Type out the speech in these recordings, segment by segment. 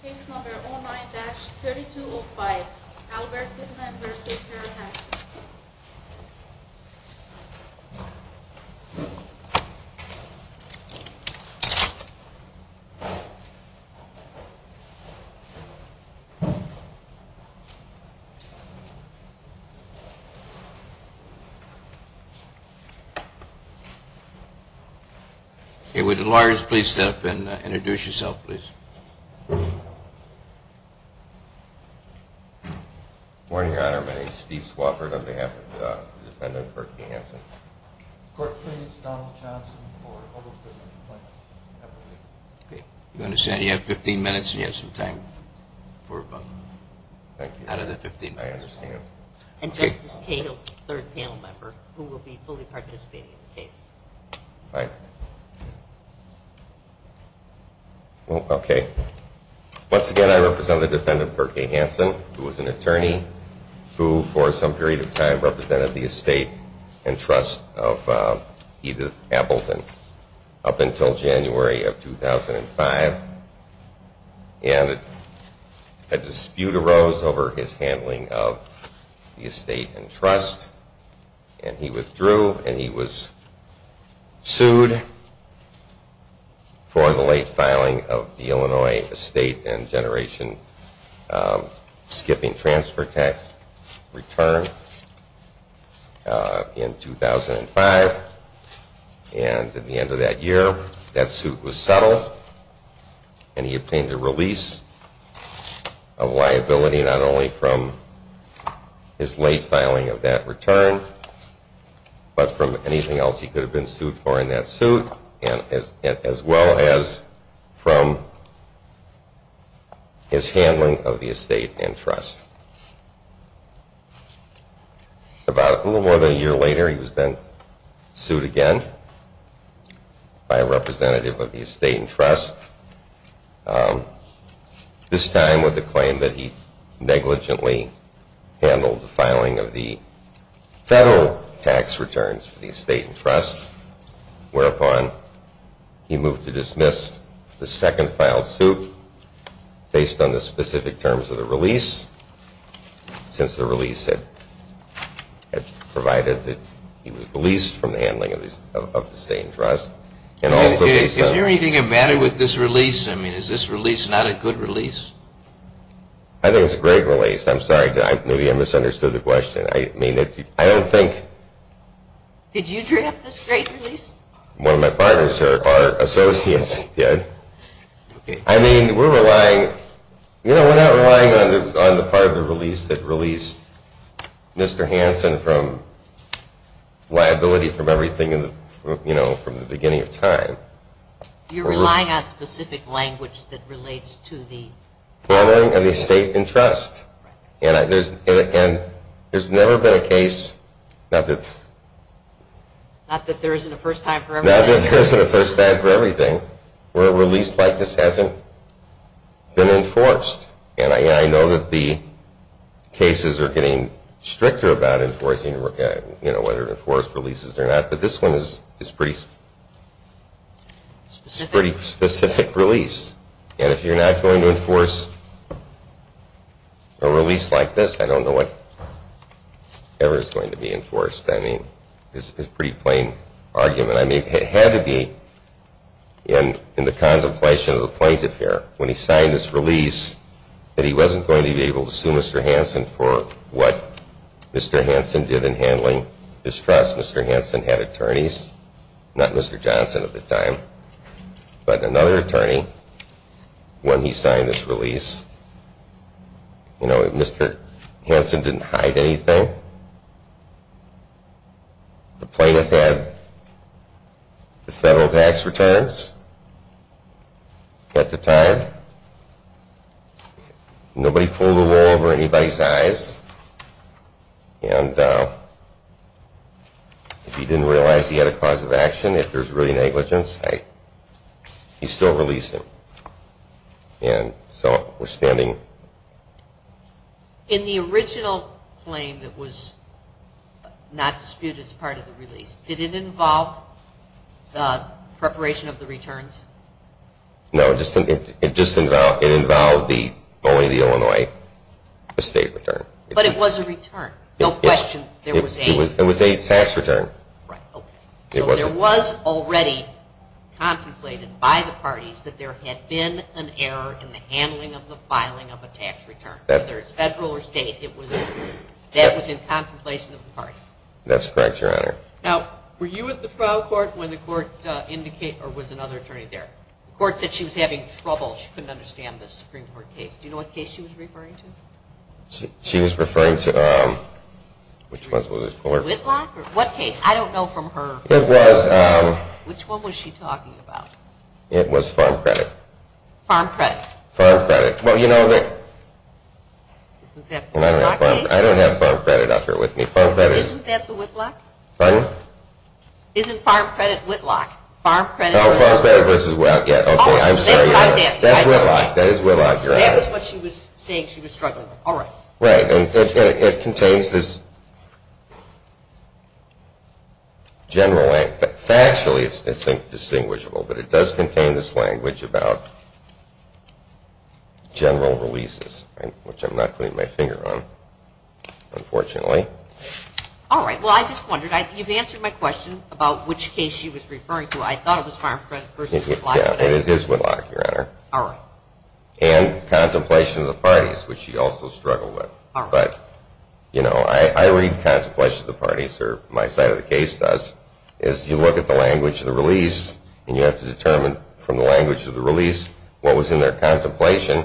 Case number 09-3205, Albert Goodman v. Per Hanson. Okay, would the lawyers please step up and introduce yourselves, please. Good morning, Your Honor. My name is Steve Swofford on behalf of the defendant, Per Hanson. Court please, Donald Johnson, for a total of 15 points. Okay, you understand you have 15 minutes and you have some time for a vote. Thank you. Out of the 15 minutes. I understand. And Justice Cahill's third panel member, who will be fully participating in the case. Fine. Okay. Once again, I represent the defendant, Per K. Hanson, who was an attorney, who for some period of time represented the estate and trust of Edith Appleton up until January of 2005. And a dispute arose over his handling of the estate and trust. And he withdrew and he was sued for the late filing of the Illinois estate and generation skipping transfer tax return in 2005. And at the end of that year, that suit was settled and he obtained a release of liability not only from his late filing of that return, but from anything else he could have been sued for in that suit, as well as from his handling of the estate and trust. About a little more than a year later, he was then sued again by a representative of the estate and trust, this time with the claim that he negligently handled the filing of the federal tax returns for the estate and trust, whereupon he moved to dismiss the second filed suit based on the specific terms of the release, since the release had provided that he was released from the handling of the estate and trust. And also based on – Did you hear anything that mattered with this release? I mean, is this release not a good release? I think it's a great release. I'm sorry. Maybe I misunderstood the question. I mean, I don't think – Did you draft this great release? One of my partners, our associates did. I mean, we're relying – you know, we're not relying on the part of the release that released Mr. Hansen from liability from everything, you know, from the beginning of time. You're relying on specific language that relates to the – Handling of the estate and trust. And there's never been a case – Not that there isn't a first time for everything. Not that there isn't a first time for everything where a release like this hasn't been enforced. And I know that the cases are getting stricter about enforcing, you know, whether to enforce releases or not. But this one is a pretty specific release. And if you're not going to enforce a release like this, I don't know what ever is going to be enforced. I mean, it's a pretty plain argument. I mean, it had to be in the contemplation of the plaintiff here when he signed this release that he wasn't going to be able to sue Mr. Hansen for what Mr. Hansen did in handling his trust. Mr. Hansen had attorneys, not Mr. Johnson at the time, but another attorney when he signed this release. You know, Mr. Hansen didn't hide anything. The plaintiff had the federal tax returns at the time. Nobody pulled the wool over anybody's eyes. And if he didn't realize he had a cause of action, if there's really negligence, he still released him. And so we're standing. In the original claim that was not disputed as part of the release, did it involve the preparation of the returns? No, it just involved only the Illinois estate return. But it was a return. No question. It was a tax return. Right, okay. So there was already contemplated by the parties that there had been an error in the handling of the filing of a tax return. Whether it's federal or state, that was in contemplation of the parties. That's correct, Your Honor. Now, were you at the trial court when the court indicated, or was another attorney there? The court said she was having trouble. She couldn't understand the Supreme Court case. Do you know what case she was referring to? She was referring to, which one was it? Whitlock? What case? I don't know from her. It was. Which one was she talking about? It was farm credit. Farm credit. Farm credit. Well, you know, I don't have farm credit up here with me. Isn't that the Whitlock case? Pardon? Isn't farm credit Whitlock? Farm credit. Oh, farm credit versus Whitlock. Okay, I'm sorry. That's Whitlock. That is Whitlock, Your Honor. That was what she was saying she was struggling with. All right. Right, and it contains this general language. Factually, it's indistinguishable, but it does contain this language about general releases, which I'm not putting my finger on, unfortunately. All right, well, I just wondered. You've answered my question about which case she was referring to. I thought it was farm credit versus Whitlock. Yeah, it is Whitlock, Your Honor. All right. And contemplation of the parties, which she also struggled with. All right. But, you know, I read contemplation of the parties, or my side of the case does, is you look at the language of the release, and you have to determine from the language of the release what was in their contemplation,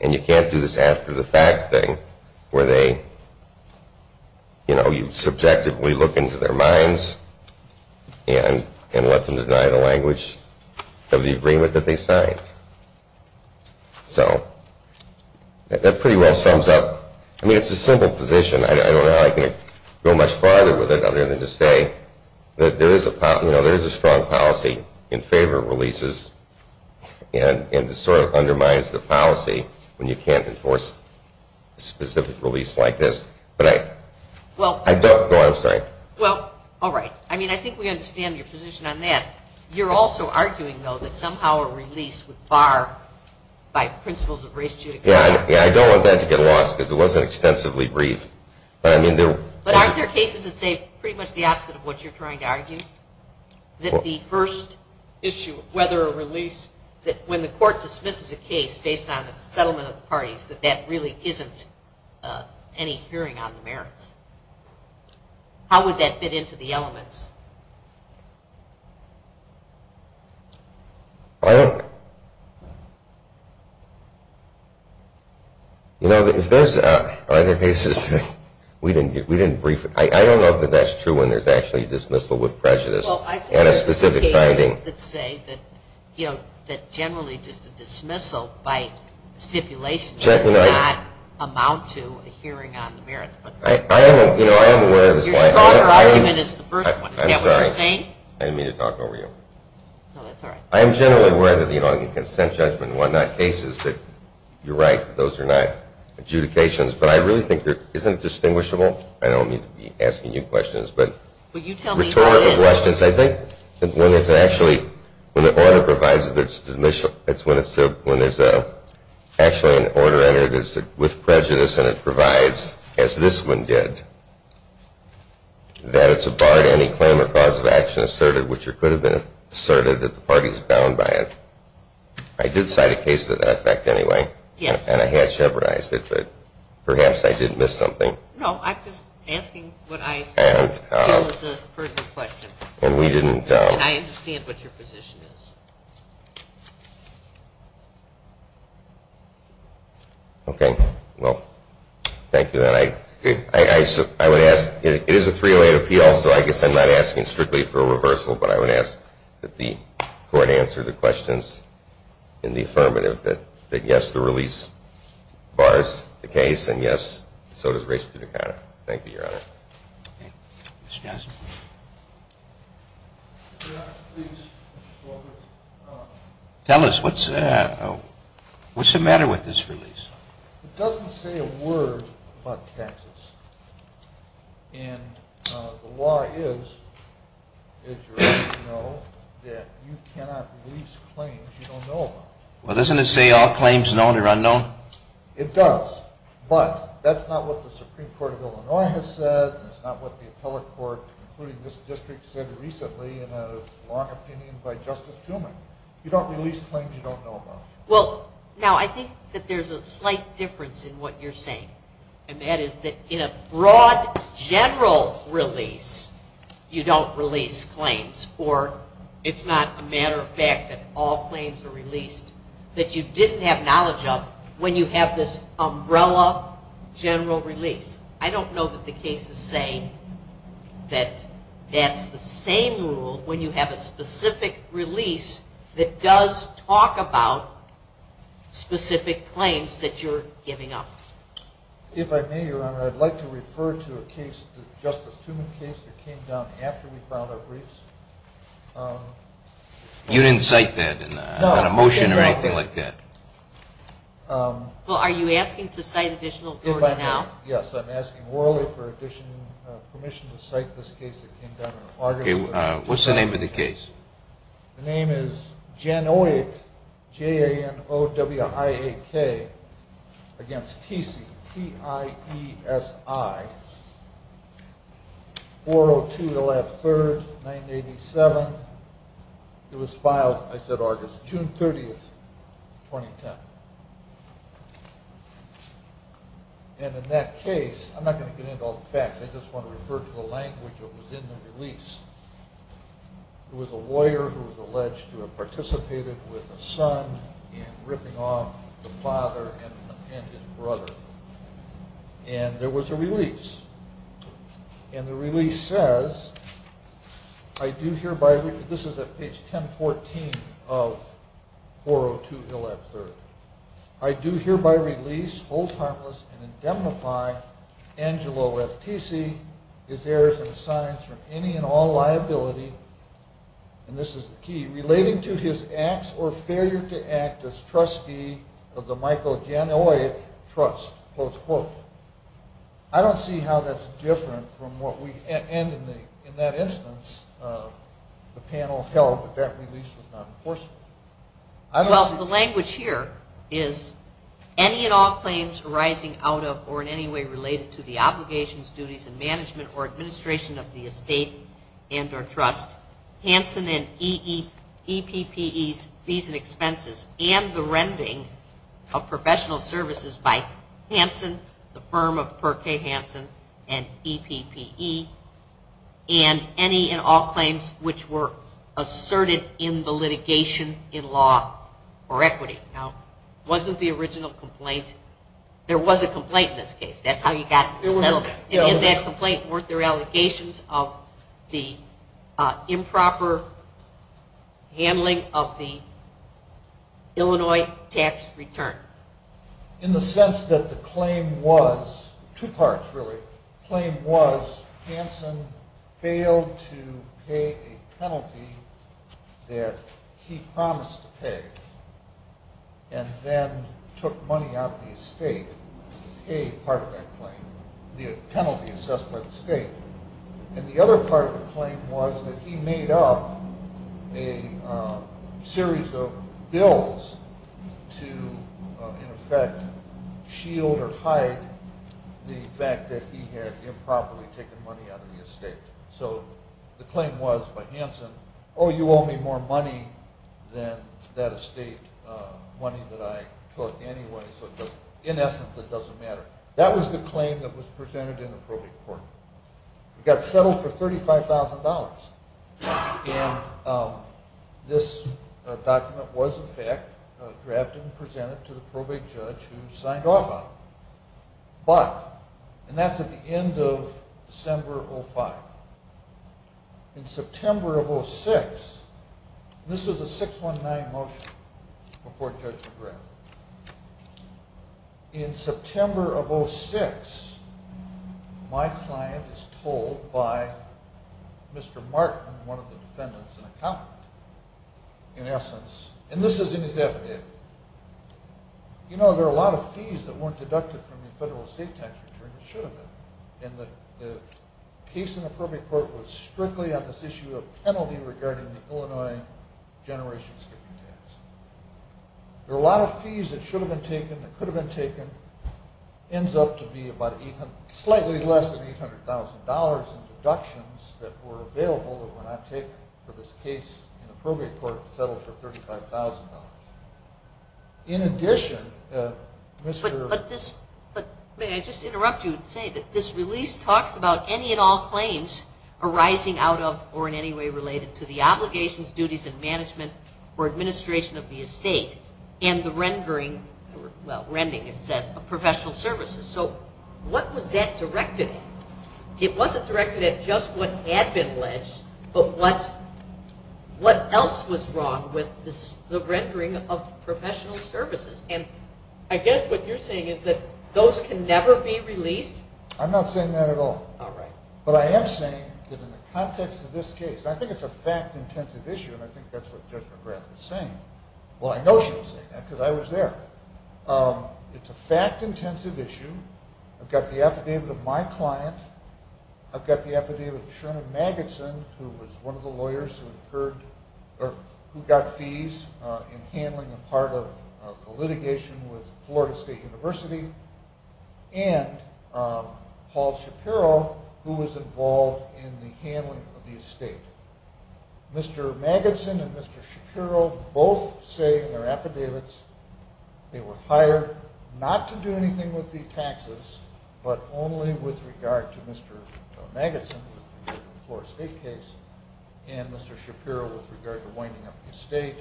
and you can't do this after-the-fact thing where they, you know, you subjectively look into their minds and let them deny the language of the agreement that they signed. So that pretty well sums up. I mean, it's a simple position. I don't know how I can go much farther with it other than to say that there is a strong policy in favor of releases, and it sort of undermines the policy when you can't enforce a specific release like this. But I don't know. I'm sorry. Well, all right. I mean, I think we understand your position on that. You're also arguing, though, that somehow a release would bar, by principles of race, judicature. Yeah, I don't want that to get lost because it wasn't extensively brief. But I mean, there were. But aren't there cases that say pretty much the opposite of what you're trying to argue? That the first issue, whether a release, that when the court dismisses a case based on a settlement of the parties, that that really isn't any hearing on the merits. How would that fit into the elements? I don't know. You know, if there's other cases that we didn't brief. I don't know if that's true when there's actually a dismissal with prejudice and a specific finding. Well, I think there's cases that say that generally just a dismissal by stipulation does not amount to a hearing on the merits. I am aware of this. Your stronger argument is the first one. Is that what you're saying? I'm sorry. I didn't mean to talk over you. No, that's all right. I am generally aware that the consent judgment and whatnot, cases that you're right, those are not adjudications. But I really think there isn't a distinguishable. I don't mean to be asking you questions. But you tell me how it is. Rhetorical questions. I think when there's actually, when the order provides that there's a dismissal, that's when there's actually an order entered with prejudice and it provides, as this one did, that it's a bar to any claim or cause of action asserted, which could have been asserted that the party is bound by it. I did cite a case of that effect anyway. Yes. And I had jeopardized it. But perhaps I did miss something. No, I'm just asking what I feel is a pertinent question. And we didn't. And I understand what your position is. Okay. Well, thank you. And I would ask, it is a 308 appeal, so I guess I'm not asking strictly for a reversal, but I would ask that the court answer the questions in the affirmative that, yes, the release bars the case, and, yes, so does race to the counter. Thank you, Your Honor. Okay. Mr. Johnson. Mr. Justice, please. Mr. Stoltenberg. Tell us, what's the matter with this release? It doesn't say a word about taxes. And the law is, as you already know, that you cannot release claims you don't know about. Well, doesn't it say all claims known or unknown? It does. But that's not what the Supreme Court of Illinois has said, and it's not what the appellate court, including this district, said recently in a long opinion by Justice Truman. You don't release claims you don't know about. Well, now, I think that there's a slight difference in what you're saying, and that is that in a broad general release, you don't release claims, or it's not a matter of fact that all claims are released, that you didn't have knowledge of when you have this umbrella general release. I don't know that the cases say that that's the same rule when you have a specific release that does talk about specific claims that you're giving up. If I may, Your Honor, I'd like to refer to a case, the Justice Truman case that came down after we filed our briefs. You didn't cite that in a motion or anything like that? Well, are you asking to cite additional court now? If I may, yes. I'm asking morally for permission to cite this case that came down in August. What's the name of the case? The name is Janowiak, J-A-N-O-W-I-A-K, against Tiesi, T-I-E-S-I, 4-0-2-11-3, 1987. It was filed, I said August, June 30, 2010. And in that case, I'm not going to get into all the facts. I just want to refer to the language that was in the release. It was a lawyer who was alleged to have participated with a son in ripping off the father and an appended brother. And there was a release. And the release says, I do hereby release, this is at page 1014 of 4-0-2-11-3. I do hereby release, hold harmless, and indemnify Angelo F. Tiesi, his heirs and assigns from any and all liability, and this is the key, relating to his acts or failure to act as trustee of the Michael Janowiak Trust. I don't see how that's different from what we, and in that instance, the panel held that that release was not enforceable. Well, the language here is any and all claims arising out of or in any way related to the obligations, duties, and management or administration of the estate and or trust, Hansen and EPPE's fees and expenses, and the rending of professional services by Hansen, the firm of Per K. Hansen and EPPE, and any and all claims which were asserted in the litigation in law or equity. Now, it wasn't the original complaint. There was a complaint in this case. That's how you got it settled. In that complaint weren't there allegations of the improper handling of the Illinois tax return? In the sense that the claim was, two parts, really. The claim was Hansen failed to pay a penalty that he promised to pay and then took money out of the estate to pay part of that claim, the penalty assessed by the state. And the other part of the claim was that he made up a series of bills to, in effect, shield or hide the fact that he had improperly taken money out of the estate. So the claim was by Hansen, oh, you owe me more money than that estate money that I took anyway, so in essence it doesn't matter. That was the claim that was presented in the probate court. It got settled for $35,000. And this document was, in fact, drafted and presented to the probate judge who signed off on it. But, and that's at the end of December of 2005. In September of 2006, this was a 619 motion before Judge McGrath. In September of 2006, my client is told by Mr. Martin, one of the defendants and accountant, in essence, and this is in his affidavit, you know, there are a lot of fees that weren't deducted from the federal estate tax return that should have been. And the case in the probate court was strictly on this issue of penalty regarding the Illinois Generation Skipping Tax. There are a lot of fees that should have been taken, that could have been taken, ends up to be about slightly less than $800,000 in deductions that were available that were not taken for this case in the probate court and settled for $35,000. In addition, Mr. But may I just interrupt you and say that this release talks about any and all claims arising out of or in any way related to the obligations, duties, and management or administration of the estate and the rendering, well, rending it says, of professional services. So what was that directed at? It wasn't directed at just what had been alleged, but what else was wrong with the rendering of professional services? And I guess what you're saying is that those can never be released? I'm not saying that at all. All right. But I am saying that in the context of this case, I think it's a fact-intensive issue, and I think that's what Judge McGrath was saying. Well, I know she was saying that because I was there. It's a fact-intensive issue. I've got the affidavit of my client. I've got the affidavit of Sherman Magidson, who was one of the lawyers who got fees in handling a part of a litigation with Florida State University, and Paul Shapiro, who was involved in the handling of the estate. Mr. Magidson and Mr. Shapiro both say in their affidavits they were hired not to do Mr. Magidson, who was involved in the Florida State case, and Mr. Shapiro with regard to winding up the estate,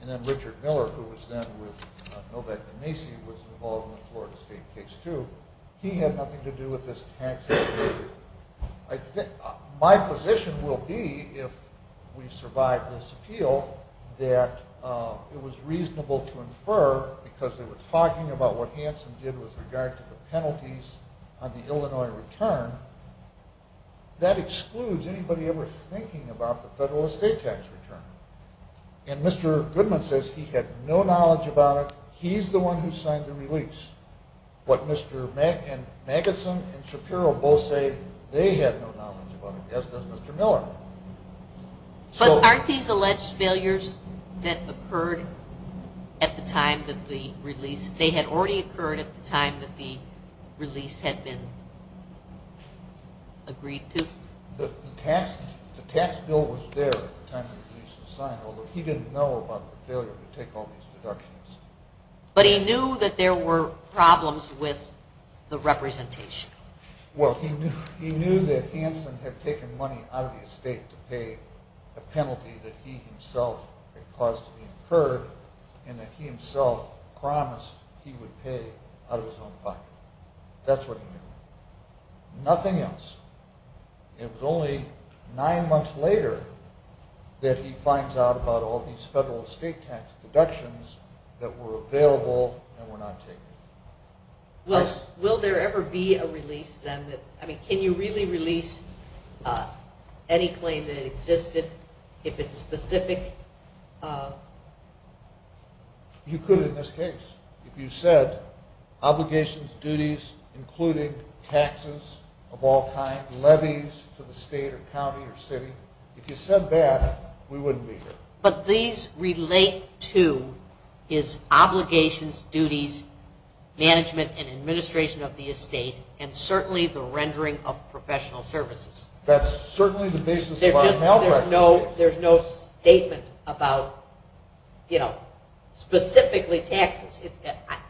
and then Richard Miller, who was then with Novak de Macy, was involved in the Florida State case too. He had nothing to do with this tax issue. My position will be, if we survive this appeal, that it was reasonable to infer, because they were talking about what Hanson did with regard to the penalties on the Illinois return, that excludes anybody ever thinking about the federal estate tax return. And Mr. Goodman says he had no knowledge about it. He's the one who signed the release. But Mr. Magidson and Shapiro both say they had no knowledge about it, as does Mr. Miller. But aren't these alleged failures that occurred at the time that the release – the release had been agreed to? The tax bill was there at the time the release was signed, although he didn't know about the failure to take all these deductions. But he knew that there were problems with the representation. Well, he knew that Hanson had taken money out of the estate to pay a penalty that he himself had positively incurred and that he himself promised he would pay out of his own pocket. That's what he knew. Nothing else. It was only nine months later that he finds out about all these federal estate tax deductions that were available and were not taken. Will there ever be a release then? I mean, can you really release any claim that existed if it's specific? You could in this case if you said obligations, duties, including taxes of all kinds, levies to the state or county or city. If you said that, we wouldn't be here. But these relate to his obligations, duties, management, and administration of the estate, and certainly the rendering of professional services. That's certainly the basis of our malpractice case. There's no statement about specifically taxes.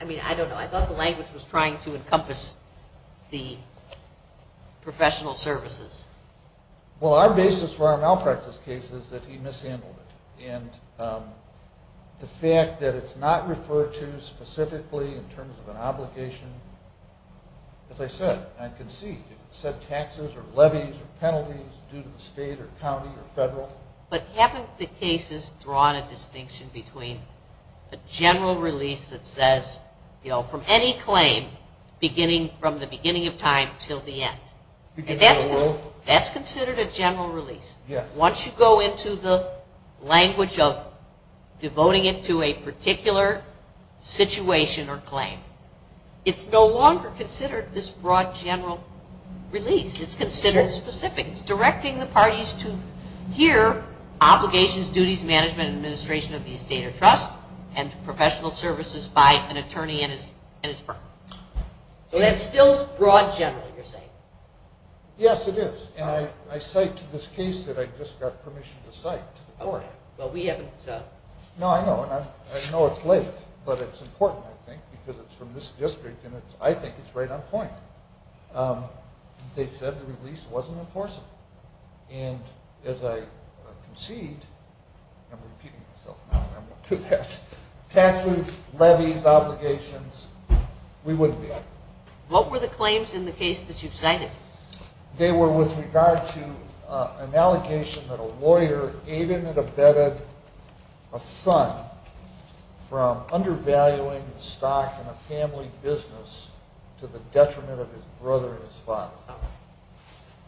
I mean, I don't know. I thought the language was trying to encompass the professional services. Well, our basis for our malpractice case is that he mishandled it. The fact that it's not referred to specifically in terms of an obligation, as I said, I can see if it said taxes or levies or penalties due to the state or county or federal. But haven't the cases drawn a distinction between a general release that says, you know, from any claim beginning from the beginning of time until the end? That's considered a general release. Yes. Once you go into the language of devoting it to a particular situation or claim, it's no longer considered this broad general release. It's considered specific. It's directing the parties to hear obligations, duties, management, and administration of the estate or trust and professional services by an attorney and his firm. So that's still broad general, you're saying. Yes, it is. And I cite this case that I just got permission to cite to the court. Well, we haven't. No, I know. And I know it's late, but it's important, I think, because it's from this district, and I think it's right on point. They said the release wasn't enforceable. And as I concede, I'm repeating myself now and I won't do that, taxes, levies, obligations, we wouldn't be. What were the claims in the case that you've cited? They were with regard to an allegation that a lawyer aided and abetted a son from undervaluing the stock in a family business to the detriment of his brother and his father,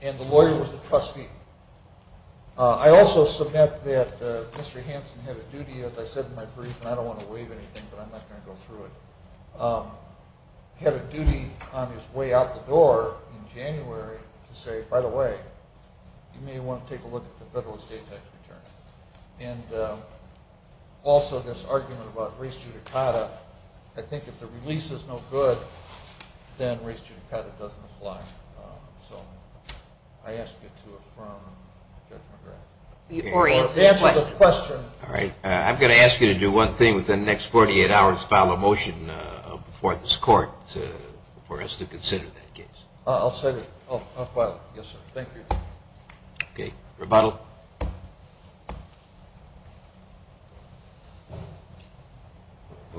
and the lawyer was a trustee. I also submit that Mr. Hansen had a duty, as I said in my brief, and I don't want to waive anything, but I'm not going to go through it, had a duty on his way out the door in January to say, by the way, you may want to take a look at the federal estate tax return. And also this argument about res judicata, I think if the release is no good, then res judicata doesn't apply. So I ask you to affirm Judge McGrath. To answer the question. All right. I'm going to ask you to do one thing within the next 48 hours, file a motion before this court for us to consider that case. I'll file it. Yes, sir. Thank you. Okay. Rebuttal.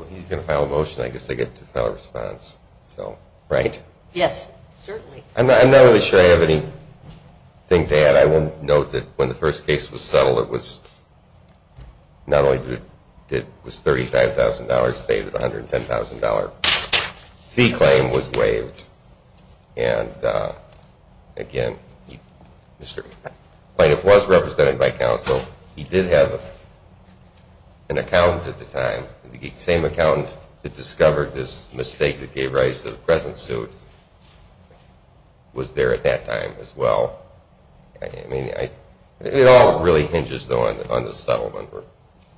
He's going to file a motion. I guess I get to file a response. Right? Yes. Certainly. I'm not really sure I have anything to add. But I will note that when the first case was settled, it was not only was $35,000 paid, a $110,000 fee claim was waived. And, again, Mr. Plaintiff was represented by counsel. He did have an accountant at the time. The same accountant that discovered this mistake that gave rise to the present suit was there at that time as well. It all really hinges, though, on the settlement,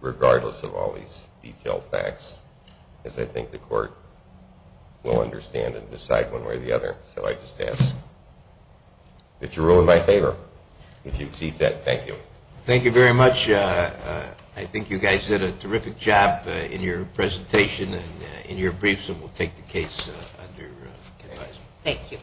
regardless of all these detailed facts, as I think the court will understand and decide one way or the other. So I just ask that you rule in my favor. If you exceed that, thank you. Thank you very much. I think you guys did a terrific job in your presentation and in your briefs, and we'll take the case under advisement. Thank you.